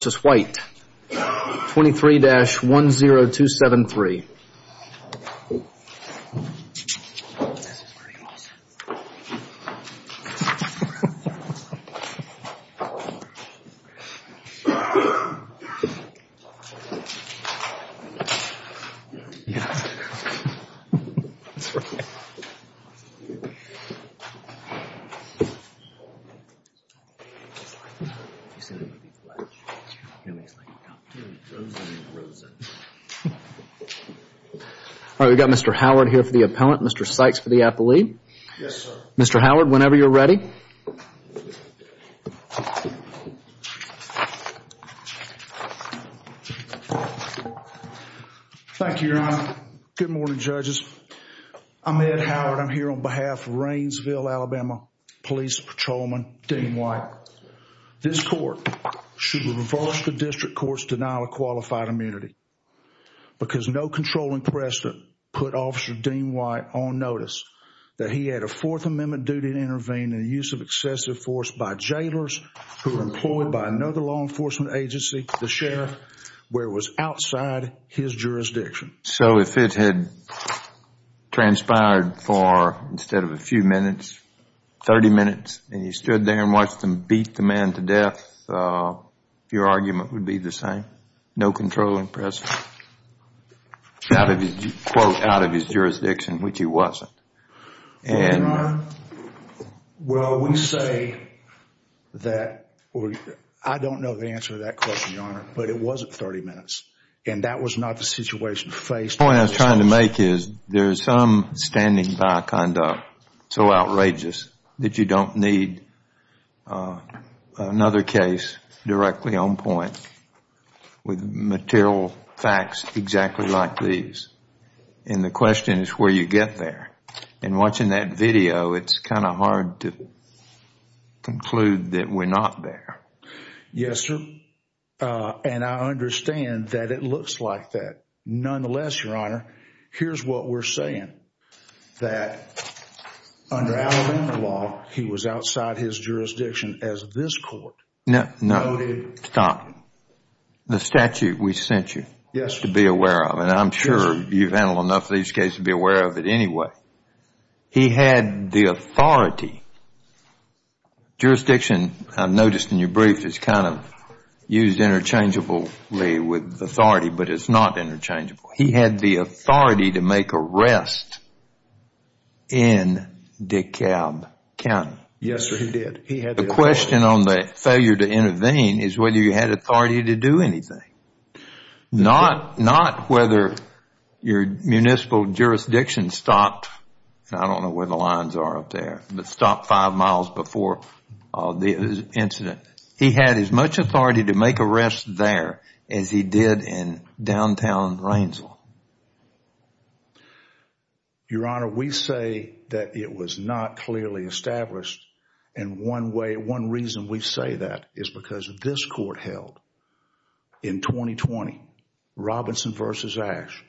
23-10273 Good morning, judges. I'm Ed Howard. I'm here on behalf of Rainesville, Alabama Police Patrolman Dean White. This court should reverse the district court's denial of qualified immunity because no controlling precedent put Officer Dean White on notice that he had a Fourth Amendment duty to intervene in the use of excessive force by jailers who were employed by another law enforcement agency, the sheriff, where it was outside his jurisdiction. So if it had transpired for, instead of a few minutes, 30 minutes, and you stood there and watched them beat the man to death, your argument would be the same? No controlling precedent? Out of his jurisdiction, which he wasn't. Well, we say that, I don't know the answer to that question, Your Honor, but it wasn't 30 minutes. And that was not the situation faced. The point I was trying to make is there is some standing by conduct so outrageous that you don't need another case directly on point with material facts exactly like these. And the question is where you get there. And watching that video, it's kind of hard to conclude that we're not there. Yes, sir. And I understand that it looks like that. Nonetheless, Your Honor, here's what we're saying, that under our law, he was outside his jurisdiction as this court noted. No, stop. The statute we sent you to be aware of, and I'm sure you've handled enough of these cases to be aware of it anyway. He had the authority, jurisdiction, I've noticed in your brief, is kind of used interchangeably with authority, but it's not interchangeable. He had the authority to make arrests in DeKalb County. Yes, sir, he did. The question on the failure to intervene is whether you had authority to do anything. Not whether your municipal jurisdiction stopped, I don't know where the lines are up there, but stopped five miles before the incident. He had as much authority to make arrests there as he did in downtown Rainsville. Your Honor, we say that it was not clearly established, and one reason we say that is because this court held in 2020, Robinson v. Ashe,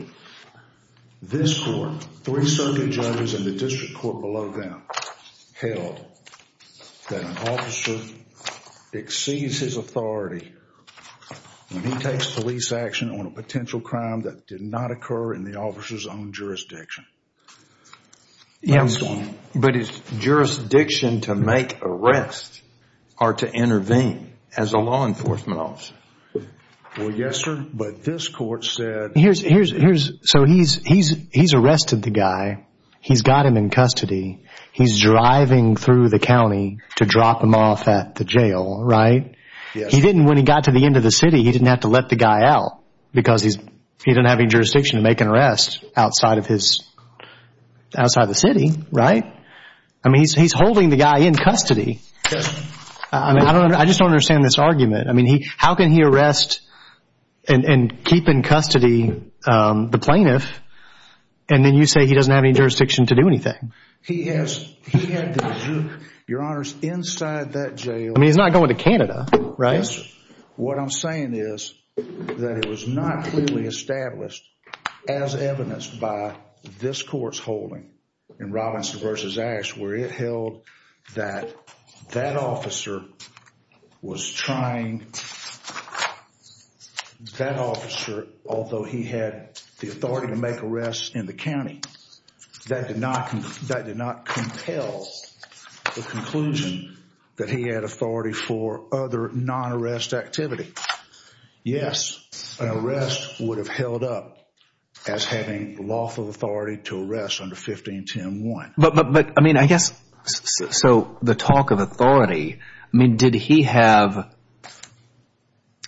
this court, three circuit judges in the district court below them, held that an officer exceeds his authority when he takes police action on a potential crime that did not occur in the officer's own jurisdiction. Yes, but his jurisdiction to make arrests are to intervene as a law enforcement officer. Well, yes, sir, but this court said- So he's arrested the guy, he's got him in custody, he's driving through the county to drop him off at the jail, right? Yes. When he got to the end of the city, he didn't have to let the guy out because he didn't have any jurisdiction to make an arrest outside of the city, right? I mean, he's holding the guy in custody. Yes. I just don't understand this argument. I mean, how can he arrest and keep in custody the plaintiff and then you say he doesn't have any jurisdiction to do anything? He had the juke, Your Honors, inside that jail. I mean, he's not going to Canada, right? Yes, sir. What I'm saying is that it was not clearly established as evidenced by this court's holding in Robinson v. Ashe where it held that that officer was trying- That officer, although he had the authority to make arrests in the county, that did not compel the conclusion that he had authority for other non-arrest activity. Yes, an arrest would have held up as having lawful authority to arrest under 1510.1. But, I mean, I guess, so the talk of authority, I mean, did he have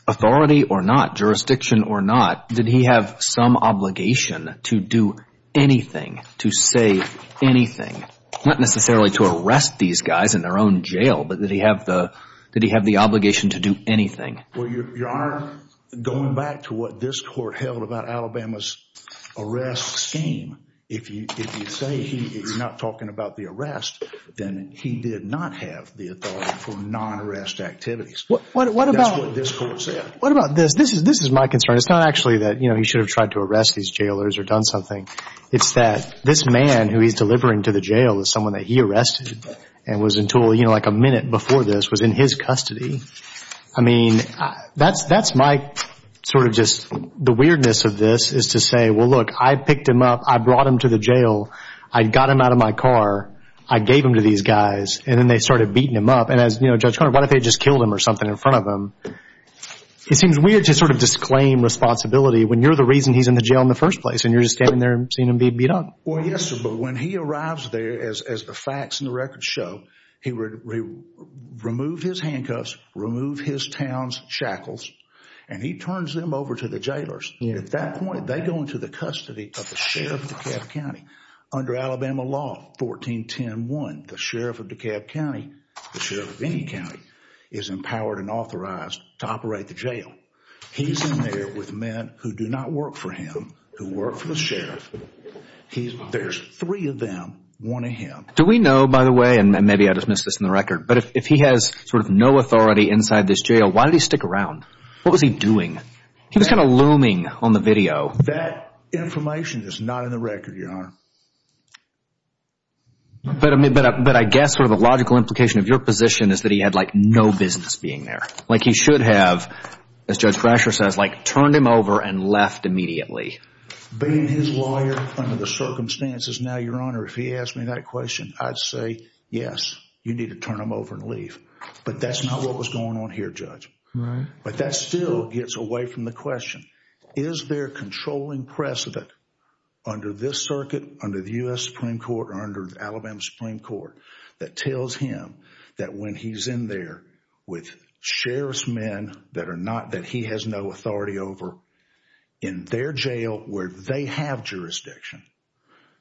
authority or not, jurisdiction or not? Did he have some obligation to do anything, to say anything? Not necessarily to arrest these guys in their own jail, but did he have the obligation to do anything? Well, Your Honor, going back to what this court held about Alabama's arrest scheme, if you say he is not talking about the arrest, then he did not have the authority for non-arrest activities. What about- That's what this court said. What about this? This is my concern. It's not actually that he should have tried to arrest these jailers or done something. It's that this man who he's delivering to the jail is someone that he arrested and was in total, you know, like a minute before this, was in his custody. I mean, that's my sort of just the weirdness of this is to say, well, look, I picked him up. I brought him to the jail. I got him out of my car. I gave him to these guys, and then they started beating him up. And as, you know, Judge Conner, what if they had just killed him or something in front of him? It seems weird to sort of disclaim responsibility when you're the reason he's in the jail in the first place and you're just standing there and seeing him being beat up. Well, yes, sir, but when he arrives there, as the facts and the records show, he removed his handcuffs, removed his town's shackles, and he turns them over to the jailers. And at that point, they go into the custody of the sheriff of DeKalb County. Under Alabama law 14101, the sheriff of DeKalb County, the sheriff of any county, is empowered and authorized to operate the jail. He's in there with men who do not work for him, who work for the sheriff. There's three of them, one of him. Do we know, by the way, and maybe I dismissed this in the record, but if he has sort of no authority inside this jail, why did he stick around? What was he doing? He was kind of looming on the video. That information is not in the record, Your Honor. But I guess sort of the logical implication of your position is that he had like no business being there. Like he should have, as Judge Frasher says, like turned him over and left immediately. Being his lawyer under the circumstances now, Your Honor, if he asked me that question, I'd say, yes, you need to turn him over and leave. But that's not what was going on here, Judge. Right. But that still gets away from the question. Is there a controlling precedent under this circuit, under the U.S. Supreme Court, or under Alabama Supreme Court that tells him that when he's in there with sheriff's men that he has no authority over in their jail where they have jurisdiction?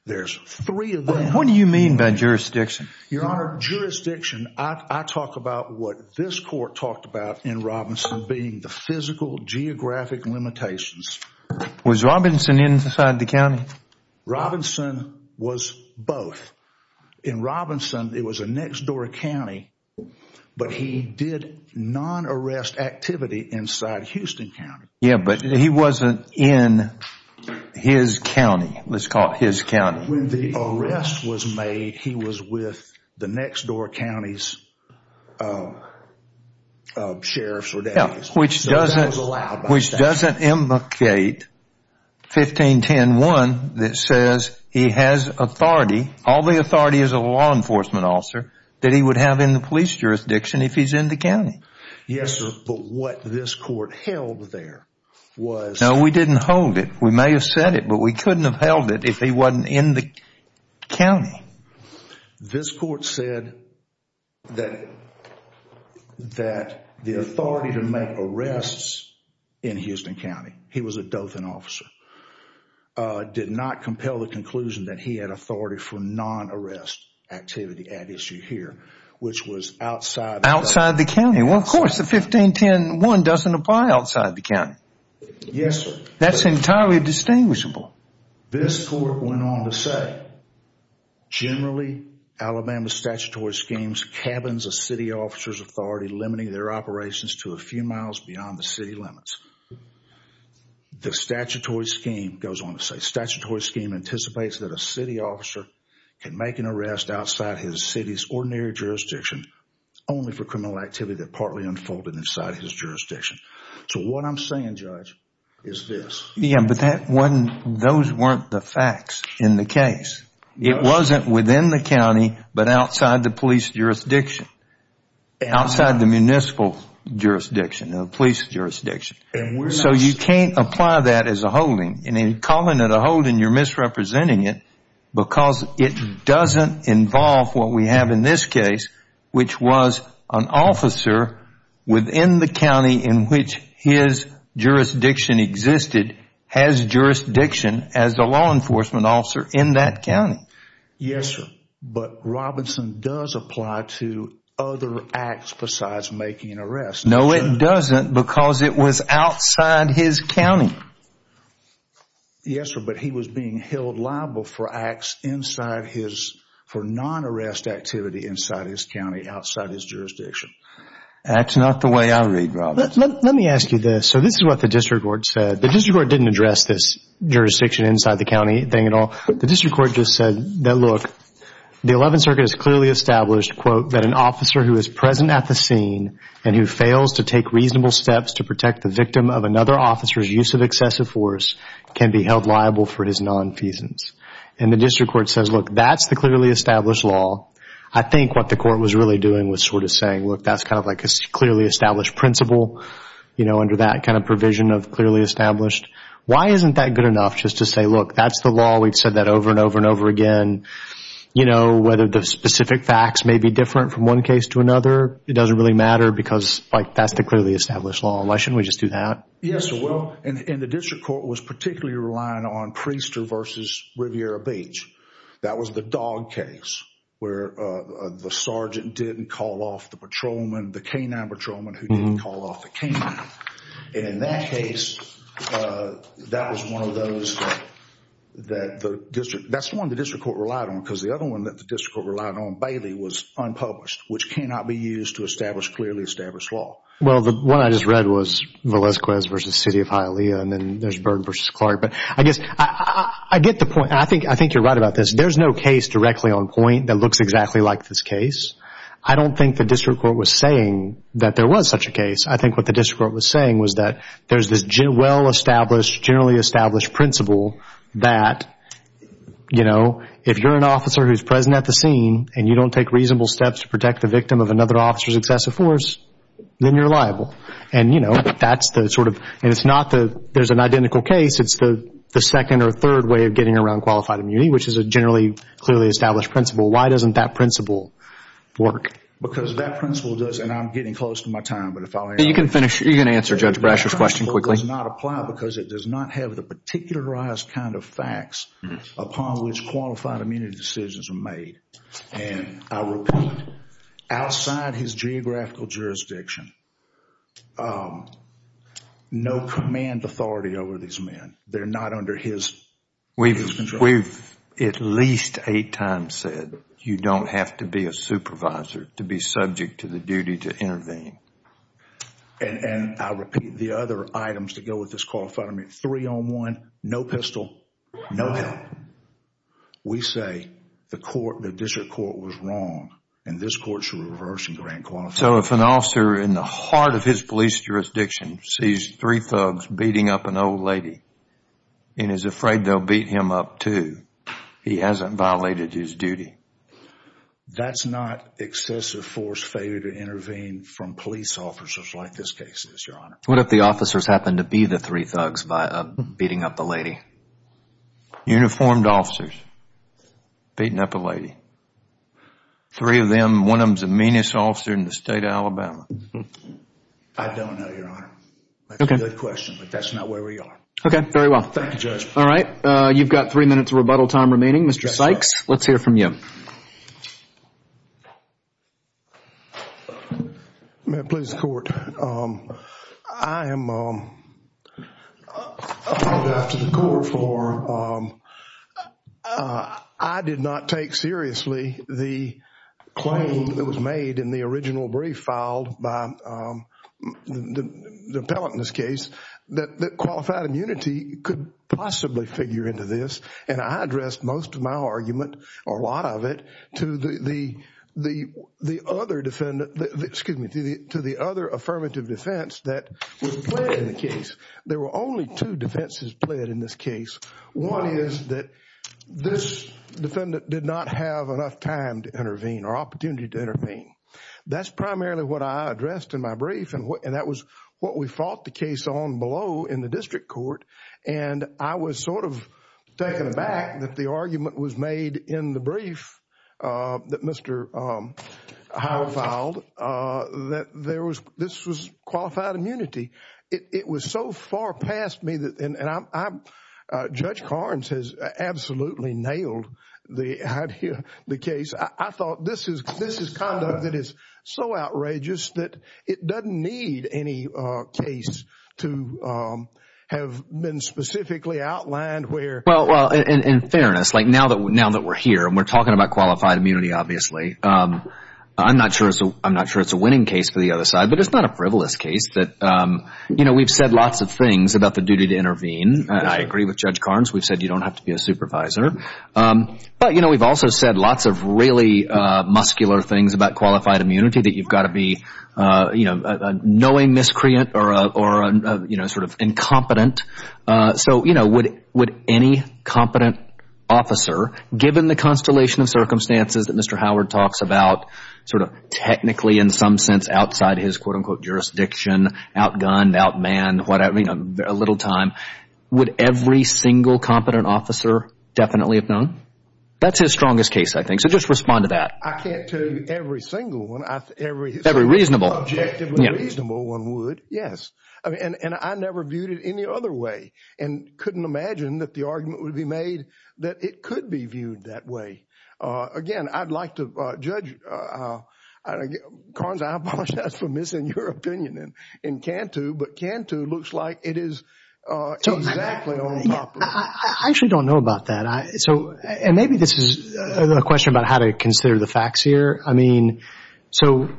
There's three of them. What do you mean by jurisdiction? Your Honor, jurisdiction, I talk about what this court talked about in Robinson being the physical geographic limitations. Was Robinson inside the county? Robinson was both. In Robinson, it was a next-door county, but he did non-arrest activity inside Houston County. Yeah, but he wasn't in his county. Let's call it his county. When the arrest was made, he was with the next-door county's sheriffs or deputies. Which doesn't implicate 1510.1 that says he has authority. All the authority is a law enforcement officer that he would have in the police jurisdiction if he's in the county. Yes, but what this court held there was... No, we didn't hold it. We may have said it, but we couldn't have held it if he wasn't in the county. This court said that the authority to make arrests in Houston County, he was a Dothan officer, did not compel the conclusion that he had authority for non-arrest activity at issue here, which was outside... Outside the county. Well, of course, the 1510.1 doesn't apply outside the county. Yes, sir. That's entirely distinguishable. This court went on to say, Generally, Alabama's statutory scheme cabins a city officer's authority limiting their operations to a few miles beyond the city limits. The statutory scheme goes on to say, Statutory scheme anticipates that a city officer can make an arrest outside his city's ordinary jurisdiction only for criminal activity that partly unfolded inside his jurisdiction. So what I'm saying, Judge, is this. Yeah, but those weren't the facts in the case. It wasn't within the county, but outside the police jurisdiction, outside the municipal jurisdiction, the police jurisdiction. So you can't apply that as a holding. In calling it a holding, you're misrepresenting it because it doesn't involve what we have in this case, which was an officer within the county in which his jurisdiction existed has jurisdiction as a law enforcement officer in that county. Yes, sir. But Robinson does apply to other acts besides making an arrest. No, it doesn't because it was outside his county. Yes, sir, but he was being held liable for acts inside his, for non-arrest activity inside his county, outside his jurisdiction. That's not the way I read, Robinson. Let me ask you this. So this is what the district court said. The district court didn't address this jurisdiction inside the county thing at all. The district court just said that, look, the Eleventh Circuit has clearly established, quote, and who fails to take reasonable steps to protect the victim of another officer's use of excessive force can be held liable for his nonfeasance. And the district court says, look, that's the clearly established law. I think what the court was really doing was sort of saying, look, that's kind of like a clearly established principle, you know, under that kind of provision of clearly established. Why isn't that good enough just to say, look, that's the law? We've said that over and over and over again. You know, whether the specific facts may be different from one case to another, it doesn't really matter. Because, like, that's the clearly established law. Why shouldn't we just do that? Yes, well, and the district court was particularly relying on Priester v. Riviera Beach. That was the dog case where the sergeant didn't call off the patrolman, the canine patrolman who didn't call off the canine. And in that case, that was one of those that the district, that's the one the district court relied on. Because the other one that the district court relied on, Bailey, was unpublished, which cannot be used to establish clearly established law. Well, the one I just read was Velasquez v. City of Hialeah, and then there's Byrd v. Clark. But I guess I get the point. I think you're right about this. There's no case directly on point that looks exactly like this case. I don't think the district court was saying that there was such a case. I think what the district court was saying was that there's this well-established, generally established principle that, you know, if you're an officer who's present at the scene and you don't take reasonable steps to protect the victim of another officer's excessive force, then you're liable. And, you know, that's the sort of, and it's not the, there's an identical case. It's the second or third way of getting around qualified immunity, which is a generally clearly established principle. Why doesn't that principle work? Because that principle does, and I'm getting close to my time. You can finish, you can answer Judge Brasher's question quickly. It does not apply because it does not have the particularized kind of facts upon which qualified immunity decisions are made. And I repeat, outside his geographical jurisdiction, no command authority over these men. They're not under his control. We've at least eight times said you don't have to be a supervisor to be subject to the duty to intervene. And I repeat, the other items that go with this qualified immunity, three on one, no pistol, no gun. We say the court, the district court was wrong, and this court should reverse and grant qualified immunity. So if an officer in the heart of his police jurisdiction sees three thugs beating up an old lady and is afraid they'll beat him up too, he hasn't violated his duty. That's not excessive force failure to intervene from police officers like this case is, Your Honor. What if the officers happen to be the three thugs beating up the lady? Uniformed officers beating up a lady. Three of them, one of them's the meanest officer in the state of Alabama. I don't know, Your Honor. That's a good question, but that's not where we are. Okay, very well. Thank you, Judge. All right, you've got three minutes of rebuttal time remaining. Mr. Sykes, let's hear from you. May it please the Court. I am up to the court floor. I did not take seriously the claim that was made in the original brief filed by the appellant in this case that qualified immunity could possibly figure into this. I addressed most of my argument or a lot of it to the other affirmative defense that was played in the case. There were only two defenses played in this case. One is that this defendant did not have enough time to intervene or opportunity to intervene. That's primarily what I addressed in my brief and that was what we fought the case on below in the district court. I was sort of taken aback that the argument was made in the brief that Mr. Howell filed that this was qualified immunity. It was so far past me, and Judge Carnes has absolutely nailed the case. I thought this is conduct that is so outrageous that it doesn't need any case to have been specifically outlined. Well, in fairness, now that we're here and we're talking about qualified immunity, obviously, I'm not sure it's a winning case for the other side, but it's not a frivolous case. We've said lots of things about the duty to intervene. I agree with Judge Carnes. We've said you don't have to be a supervisor. But we've also said lots of really muscular things about qualified immunity, that you've got to be a knowing miscreant or sort of incompetent. So would any competent officer, given the constellation of circumstances that Mr. Howard talks about, sort of technically in some sense outside his, quote, unquote, jurisdiction, outgunned, outmanned, whatever, would every single competent officer definitely have known? That's his strongest case, I think. So just respond to that. I can't tell you every single one. Every reasonable. Objectively reasonable one would, yes. And I never viewed it any other way and couldn't imagine that the argument would be made that it could be viewed that way. Again, I'd like to judge – Carnes, I apologize for missing your opinion in Cantu, but Cantu looks like it is exactly on top of it. I actually don't know about that. And maybe this is a question about how to consider the facts here. I mean, so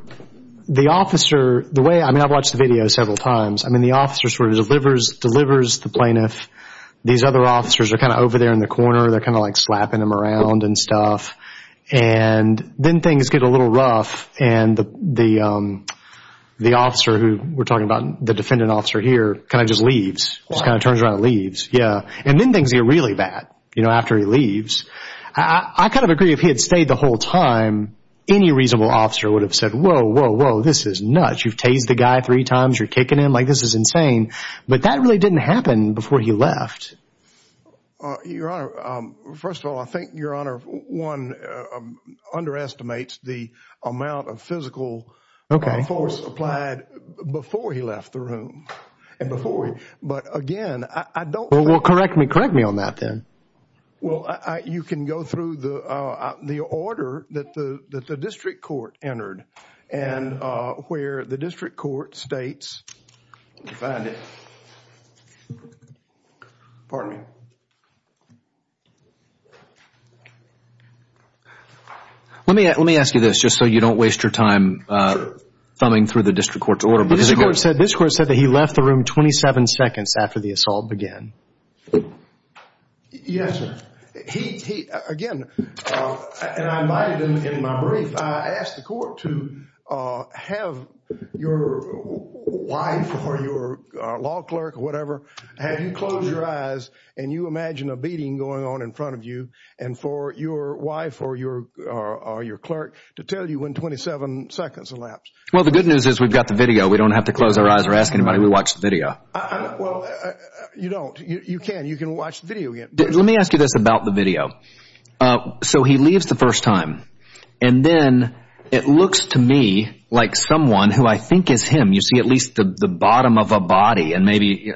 the officer, the way – I mean, I've watched the video several times. I mean, the officer sort of delivers the plaintiff. These other officers are kind of over there in the corner. They're kind of like slapping him around and stuff. And then things get a little rough. And the officer who we're talking about, the defendant officer here, kind of just leaves. Just kind of turns around and leaves. And then things get really bad after he leaves. I kind of agree if he had stayed the whole time, any reasonable officer would have said, whoa, whoa, whoa, this is nuts. You've tased the guy three times. You're kicking him. Like, this is insane. But that really didn't happen before he left. Your Honor, first of all, I think, Your Honor, one, underestimates the amount of physical force applied before he left the room. But again, I don't – Well, correct me on that then. Well, you can go through the order that the district court entered and where the district court states – Let me find it. Pardon me. Let me ask you this, just so you don't waste your time thumbing through the district court's order. This court said that he left the room 27 seconds after the assault began. Yes, sir. He, again, and I invited him in my brief. I asked the court to have your wife or your law clerk or whatever, have you close your eyes and you imagine a beating going on in front of you and for your wife or your clerk to tell you when 27 seconds elapsed. Well, the good news is we've got the video. We don't have to close our eyes or ask anybody. We watched the video. Well, you don't. You can. You can watch the video again. Let me ask you this about the video. So he leaves the first time, and then it looks to me like someone who I think is him. You see at least the bottom of a body and maybe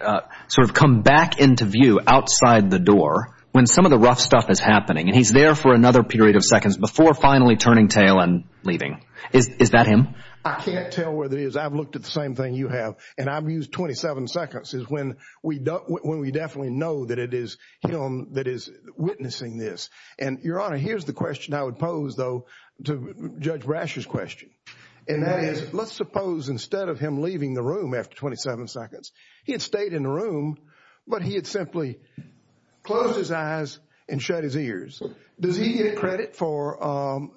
sort of come back into view outside the door when some of the rough stuff is happening, and he's there for another period of seconds before finally turning tail and leaving. Is that him? I can't tell whether it is. I've looked at the same thing you have, and I've used 27 seconds is when we definitely know that it is him that is witnessing this. And, Your Honor, here's the question I would pose, though, to Judge Brasher's question, and that is let's suppose instead of him leaving the room after 27 seconds, he had stayed in the room, but he had simply closed his eyes and shut his ears. Does he get credit for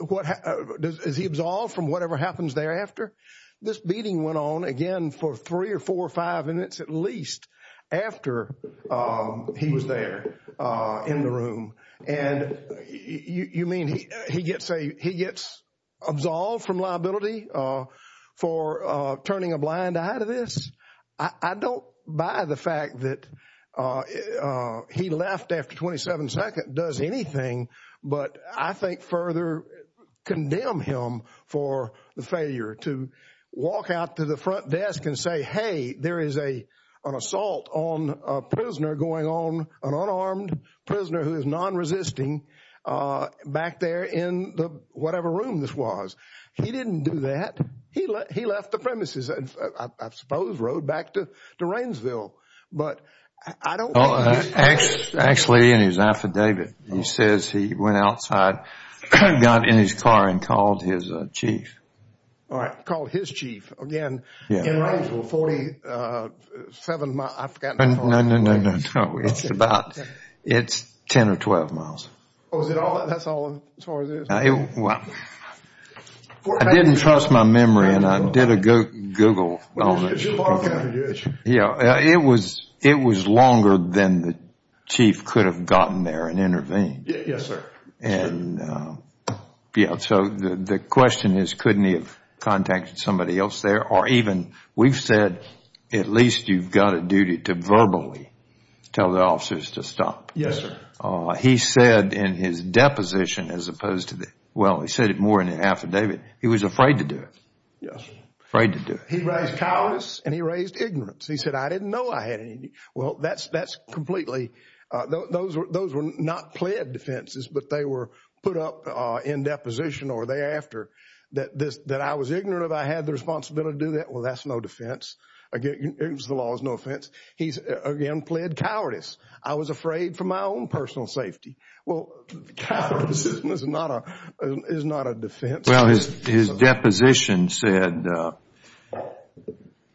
what happens? Is he absolved from whatever happens thereafter? This beating went on again for three or four or five minutes at least after he was there in the room. And you mean he gets absolved from liability for turning a blind eye to this? I don't buy the fact that he left after 27 seconds does anything, but I think further condemn him for the failure to walk out to the front desk and say, hey, there is an assault on a prisoner going on, an unarmed prisoner who is non-resisting back there in whatever room this was. He didn't do that. He left the premises, I suppose rode back to Rainsville. Actually, in his affidavit, he says he went outside, got in his car, and called his chief. Called his chief. Again, in Rainsville, 47 miles. No, no, no. It's about 10 or 12 miles. That's all as far as it is? I didn't trust my memory and I did a Google. It was longer than the chief could have gotten there and intervened. Yes, sir. So the question is, couldn't he have contacted somebody else there? Or even, we've said at least you've got a duty to verbally tell the officers to stop. Yes, sir. He said in his deposition as opposed to, well, he said it more in the affidavit, he was afraid to do it. Yes. Afraid to do it. He raised cowardice and he raised ignorance. He said, I didn't know I had any. Well, that's completely, those were not pled defenses, but they were put up in deposition or thereafter. That I was ignorant of I had the responsibility to do that, well, that's no defense. It was the law, it was no offense. He's, again, pled cowardice. I was afraid for my own personal safety. Well, cowardice is not a defense. Well, his deposition said,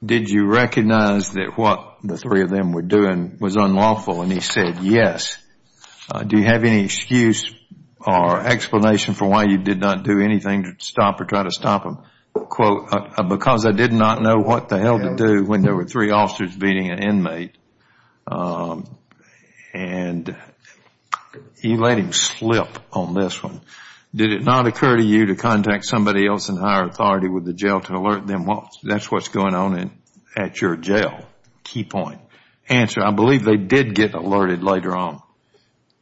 did you recognize that what the three of them were doing was unlawful? And he said, yes. Do you have any excuse or explanation for why you did not do anything to stop or try to stop them? Quote, because I did not know what the hell to do when there were three officers beating an inmate. And he let him slip on this one. Did it not occur to you to contact somebody else in higher authority with the jail to alert them? Well, that's what's going on at your jail. Key point. Answer, I believe they did get alerted later on.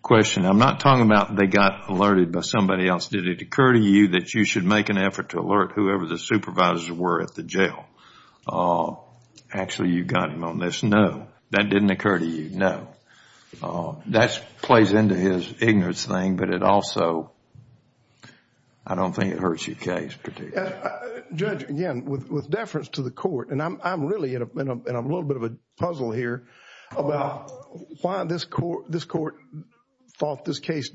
Question, I'm not talking about they got alerted by somebody else. Did it occur to you that you should make an effort to alert whoever the supervisors were at the jail? Actually, you got him on this. No, that didn't occur to you. No. That plays into his ignorance thing, but it also, I don't think it hurts your case particularly. Judge, again, with deference to the court, and I'm really in a little bit of a puzzle here about why this court thought this case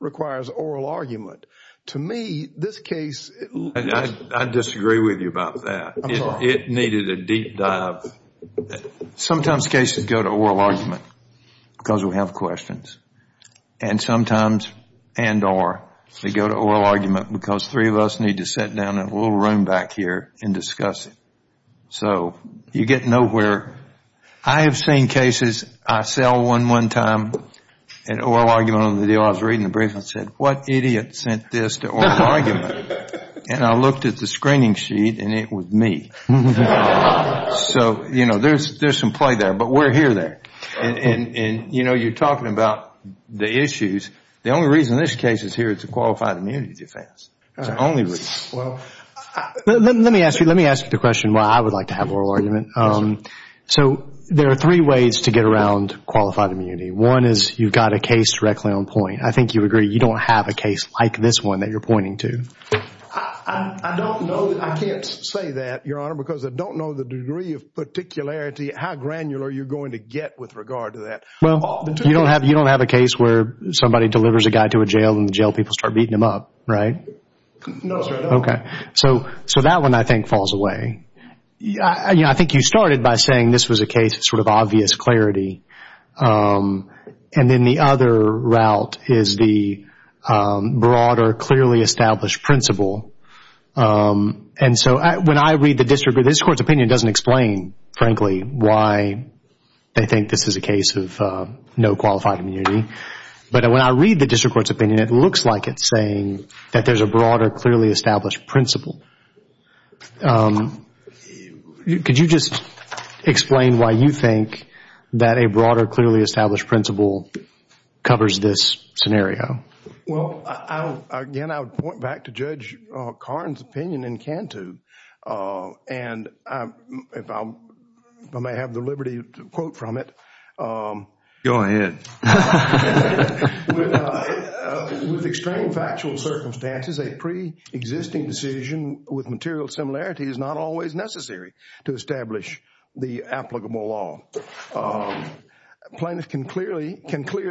requires oral argument. To me, this case... I disagree with you about that. I'm sorry. It needed a deep dive. Sometimes cases go to oral argument because we have questions. And sometimes, and or, they go to oral argument because three of us need to sit down in a little room back here and discuss it. So you get nowhere. I have seen cases. I saw one one time, an oral argument on the deal. I was reading the brief and said, what idiot sent this to oral argument? And I looked at the screening sheet and it was me. So, you know, there's some play there. But we're here there. And, you know, you're talking about the issues. The only reason this case is here is to qualify immunity defense. It's the only reason. Let me ask you the question why I would like to have oral argument. So there are three ways to get around qualified immunity. One is you've got a case directly on point. I think you agree you don't have a case like this one that you're pointing to. I don't know. I can't say that, Your Honor, because I don't know the degree of particularity, how granular you're going to get with regard to that. Well, you don't have a case where somebody delivers a guy to a jail and the jail people start beating him up, right? No, sir. Okay. So that one, I think, falls away. I think you started by saying this was a case of sort of obvious clarity. And then the other route is the broader, clearly established principle. And so when I read the district court's opinion, it doesn't explain, frankly, why they think this is a case of no qualified immunity. But when I read the district court's opinion, it looks like it's saying that there's a broader, clearly established principle. Could you just explain why you think that a broader, clearly established principle covers this scenario? Well, again, I would point back to Judge Karn's opinion in Cantu. And if I may have the liberty to quote from it. Go ahead. With extreme factual circumstances, a preexisting decision with material similarity is not always necessary to establish the applicable law. Plaintiffs can clear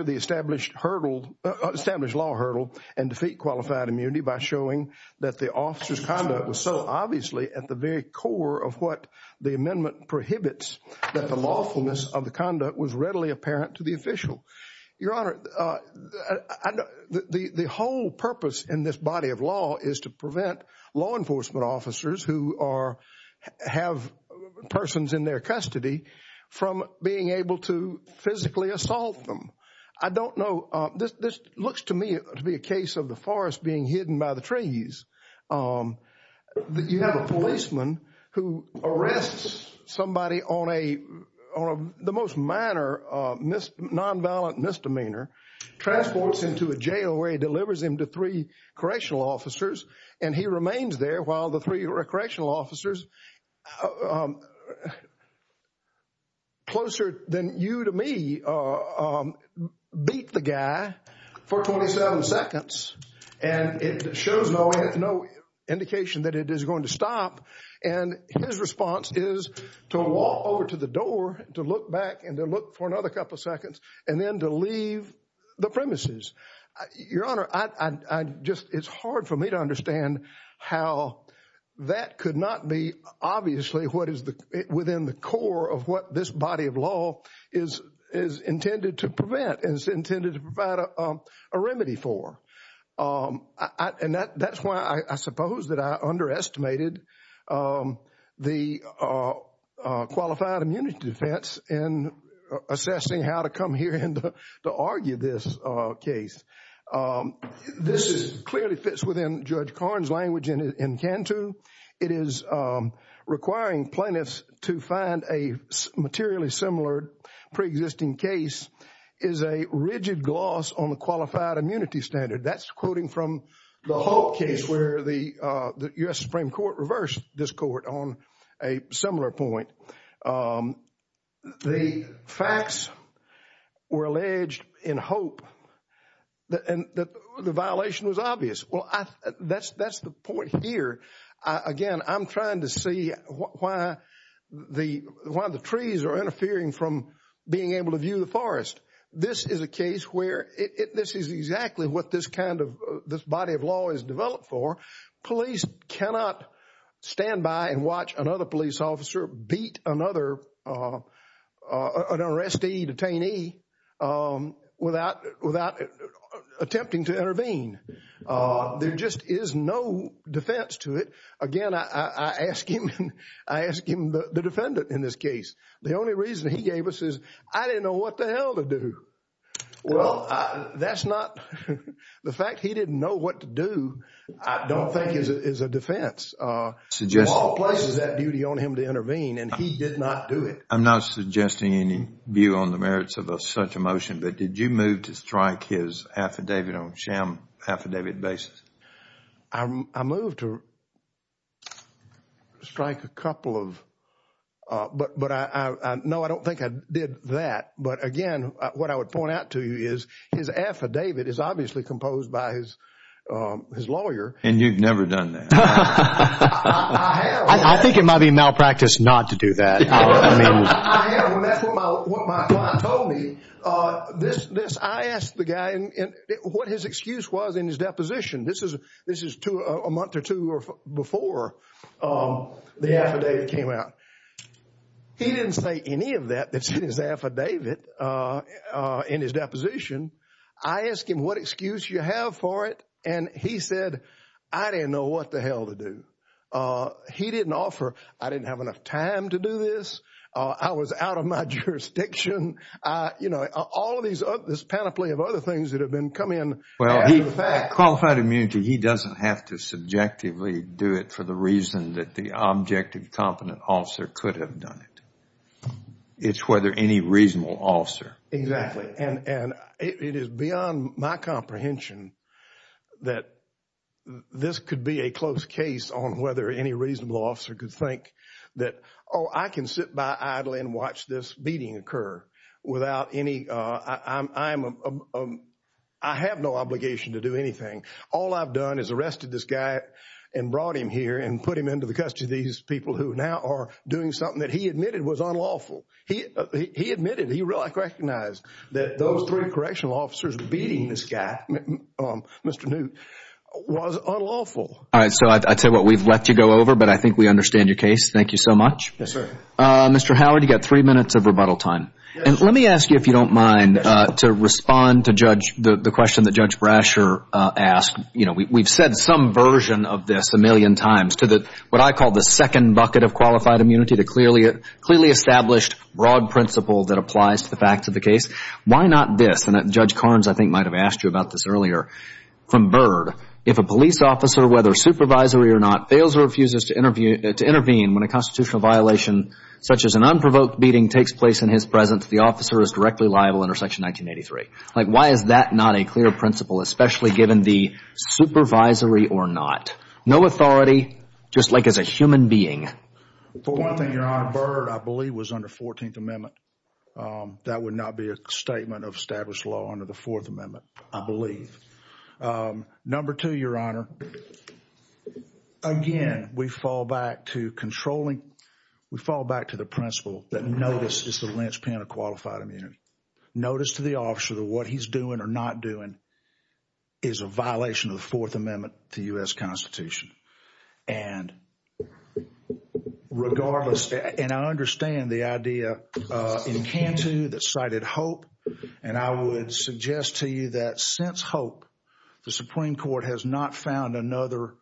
the established law hurdle and defeat qualified immunity by showing that the officer's conduct was so obviously at the very core of what the amendment prohibits, that the lawfulness of the conduct was readily apparent to the official. Your Honor, the whole purpose in this body of law is to prevent law enforcement officers who have persons in their custody from being able to physically assault them. I don't know. This looks to me to be a case of the forest being hidden by the trees. You have a policeman who arrests somebody on the most minor non-violent misdemeanor, transports him to a jail where he delivers him to three correctional officers, and he remains there while the three correctional officers closer than you to me beat the guy for 27 seconds. And it shows no indication that it is going to stop. And his response is to walk over to the door to look back and to look for another couple of seconds and then to leave the premises. Your Honor, I just it's hard for me to understand how that could not be obviously what is within the core of what this body of law is intended to prevent, and is intended to provide a remedy for. And that's why I suppose that I underestimated the qualified immunity defense in assessing how to come here and to argue this case. This clearly fits within Judge Korn's language in Cantu. It is requiring plaintiffs to find a materially similar pre-existing case is a rigid gloss on the qualified immunity standard. That's quoting from the Hope case where the U.S. Supreme Court reversed this court on a similar point. The facts were alleged in Hope, and the violation was obvious. Well, that's the point here. Again, I'm trying to see why the trees are interfering from being able to view the forest. This is a case where this is exactly what this body of law is developed for. Police cannot stand by and watch another police officer beat another, an arrestee, detainee, without attempting to intervene. There just is no defense to it. Again, I ask him, I ask him, the defendant in this case, the only reason he gave us is I didn't know what the hell to do. Well, that's not, the fact he didn't know what to do, I don't think is a defense. The law places that duty on him to intervene, and he did not do it. I'm not suggesting any view on the merits of such a motion, but did you move to strike his affidavit on sham affidavit basis? I moved to strike a couple of, but no, I don't think I did that. But again, what I would point out to you is his affidavit is obviously composed by his lawyer. And you've never done that. I have. I think it might be malpractice not to do that. I have, and that's what my client told me. I asked the guy what his excuse was in his deposition. This is a month or two before the affidavit came out. He didn't say any of that that's in his affidavit, in his deposition. I asked him what excuse you have for it, and he said, I didn't know what the hell to do. He didn't offer, I didn't have enough time to do this. I was out of my jurisdiction. You know, all of these, this panoply of other things that have been coming. Qualified immunity, he doesn't have to subjectively do it for the reason that the objective competent officer could have done it. It's whether any reasonable officer. Exactly. And it is beyond my comprehension that this could be a close case on whether any reasonable officer could think that, oh, I can sit by idly and watch this meeting occur without any, I have no obligation to do anything. All I've done is arrested this guy and brought him here and put him into the custody of these people who now are doing something that he admitted was unlawful. He admitted, he recognized that those three correctional officers beating this guy, Mr. Newt, was unlawful. All right, so I'd say what we've let you go over, but I think we understand your case. Thank you so much. Yes, sir. Mr. Howard, you've got three minutes of rebuttal time. And let me ask you, if you don't mind, to respond to the question that Judge Brasher asked. You know, we've said some version of this a million times to what I call the second bucket of qualified immunity, the clearly established, broad principle that applies to the facts of the case. Why not this? And Judge Carnes, I think, might have asked you about this earlier from Bird. If a police officer, whether supervisory or not, fails or refuses to intervene when a constitutional violation, such as an unprovoked beating, takes place in his presence, the officer is directly liable under Section 1983. Like, why is that not a clear principle, especially given the supervisory or not? No authority, just like as a human being. For one thing, Your Honor, Bird, I believe, was under 14th Amendment. That would not be a statement of established law under the Fourth Amendment, I believe. Number two, Your Honor, again, we fall back to controlling. We fall back to the principle that notice is the linchpin of qualified immunity. Notice to the officer that what he's doing or not doing is a violation of the Fourth Amendment to U.S. Constitution. And regardless, and I understand the idea in Cantu that cited hope. And I would suggest to you that since hope, the Supreme Court has not found another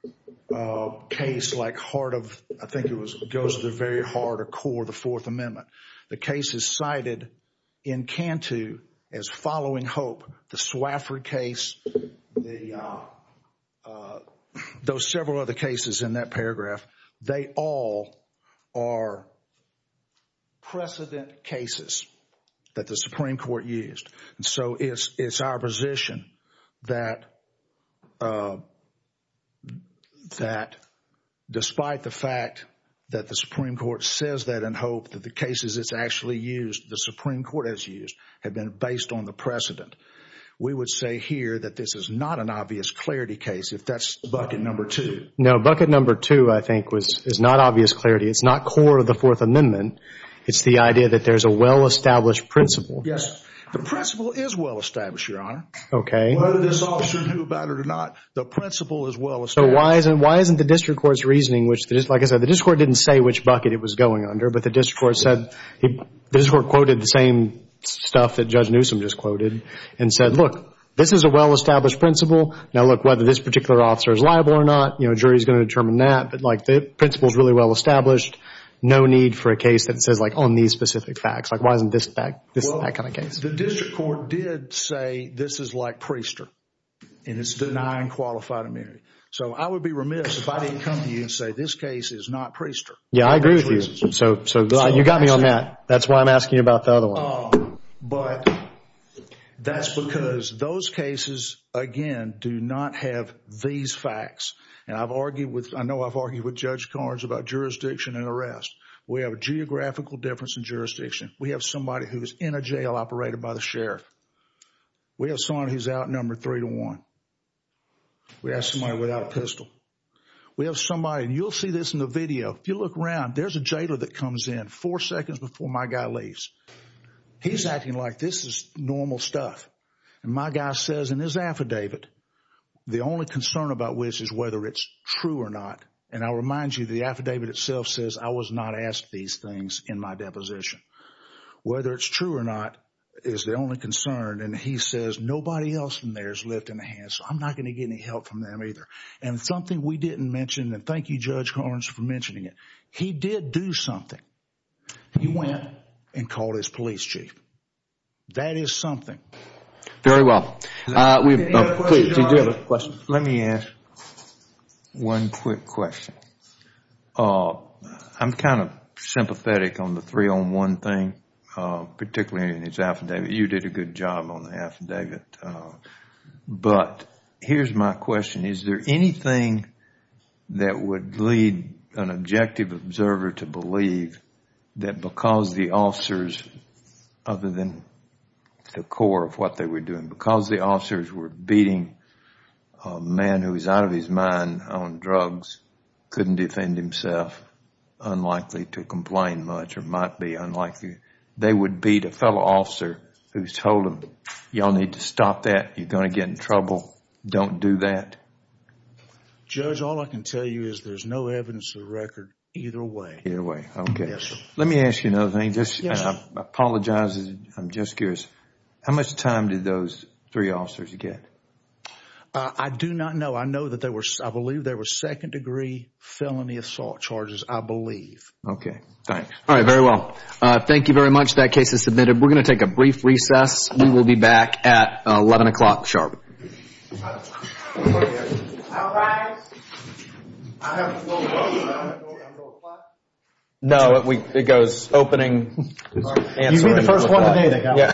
case like heart of, I think it goes to the very heart or core of the Fourth Amendment. The cases cited in Cantu as following hope, the Swafford case, those several other cases in that paragraph, they all are precedent cases that the Supreme Court used. And so it's our position that despite the fact that the Supreme Court says that in hope, that the cases it's actually used, the Supreme Court has used, have been based on the precedent. We would say here that this is not an obvious clarity case, if that's bucket number two. No, bucket number two, I think, is not obvious clarity. It's not core of the Fourth Amendment. It's the idea that there's a well-established principle. Yes. The principle is well-established, Your Honor. Okay. Whether this officer knew about it or not, the principle is well-established. So why isn't the district court's reasoning, which, like I said, the district court didn't say which bucket it was going under, but the district court quoted the same stuff that Judge Newsom just quoted and said, look, this is a well-established principle. Now, look, whether this particular officer is liable or not, you know, jury is going to determine that. But, like, the principle is really well-established. No need for a case that says, like, on these specific facts. Like, why isn't this that kind of case? Well, the district court did say this is like Priester, and it's denying qualified immunity. So I would be remiss if I didn't come to you and say this case is not Priester. Yeah, I agree with you. So you got me on that. That's why I'm asking you about the other one. But that's because those cases, again, do not have these facts. And I've argued with – I know I've argued with Judge Carnes about jurisdiction and arrest. We have a geographical difference in jurisdiction. We have somebody who is in a jail operated by the sheriff. We have someone who's outnumbered three to one. We have somebody without a pistol. We have somebody – and you'll see this in the video. If you look around, there's a jailer that comes in four seconds before my guy leaves. He's acting like this is normal stuff. And my guy says in his affidavit, the only concern about which is whether it's true or not. And I'll remind you the affidavit itself says I was not asked these things in my deposition. Whether it's true or not is the only concern. And he says nobody else in there is lifting a hand, so I'm not going to get any help from them either. And something we didn't mention, and thank you, Judge Carnes, for mentioning it. He did do something. He went and called his police chief. That is something. Very well. Let me ask one quick question. I'm kind of sympathetic on the three-on-one thing, particularly in his affidavit. You did a good job on the affidavit. But here's my question. Is there anything that would lead an objective observer to believe that because the officers, other than the core of what they were doing, because the officers were beating a man who was out of his mind on drugs, couldn't defend himself, unlikely to complain much or might be unlikely, they would beat a fellow officer who told them, y'all need to stop that, you're going to get in trouble, don't do that? Judge, all I can tell you is there's no evidence to the record either way. Either way, okay. Yes, sir. Let me ask you another thing. Yes. I apologize. I'm just curious. How much time did those three officers get? I do not know. I know that there were, I believe there were second-degree felony assault charges, I believe. Okay, thanks. All right, very well. Thank you very much. That case is submitted. We're going to take a brief recess. We will be back at 11 o'clock sharp. All right. I have a little question. No, it goes opening. You mean the first one today. Yeah.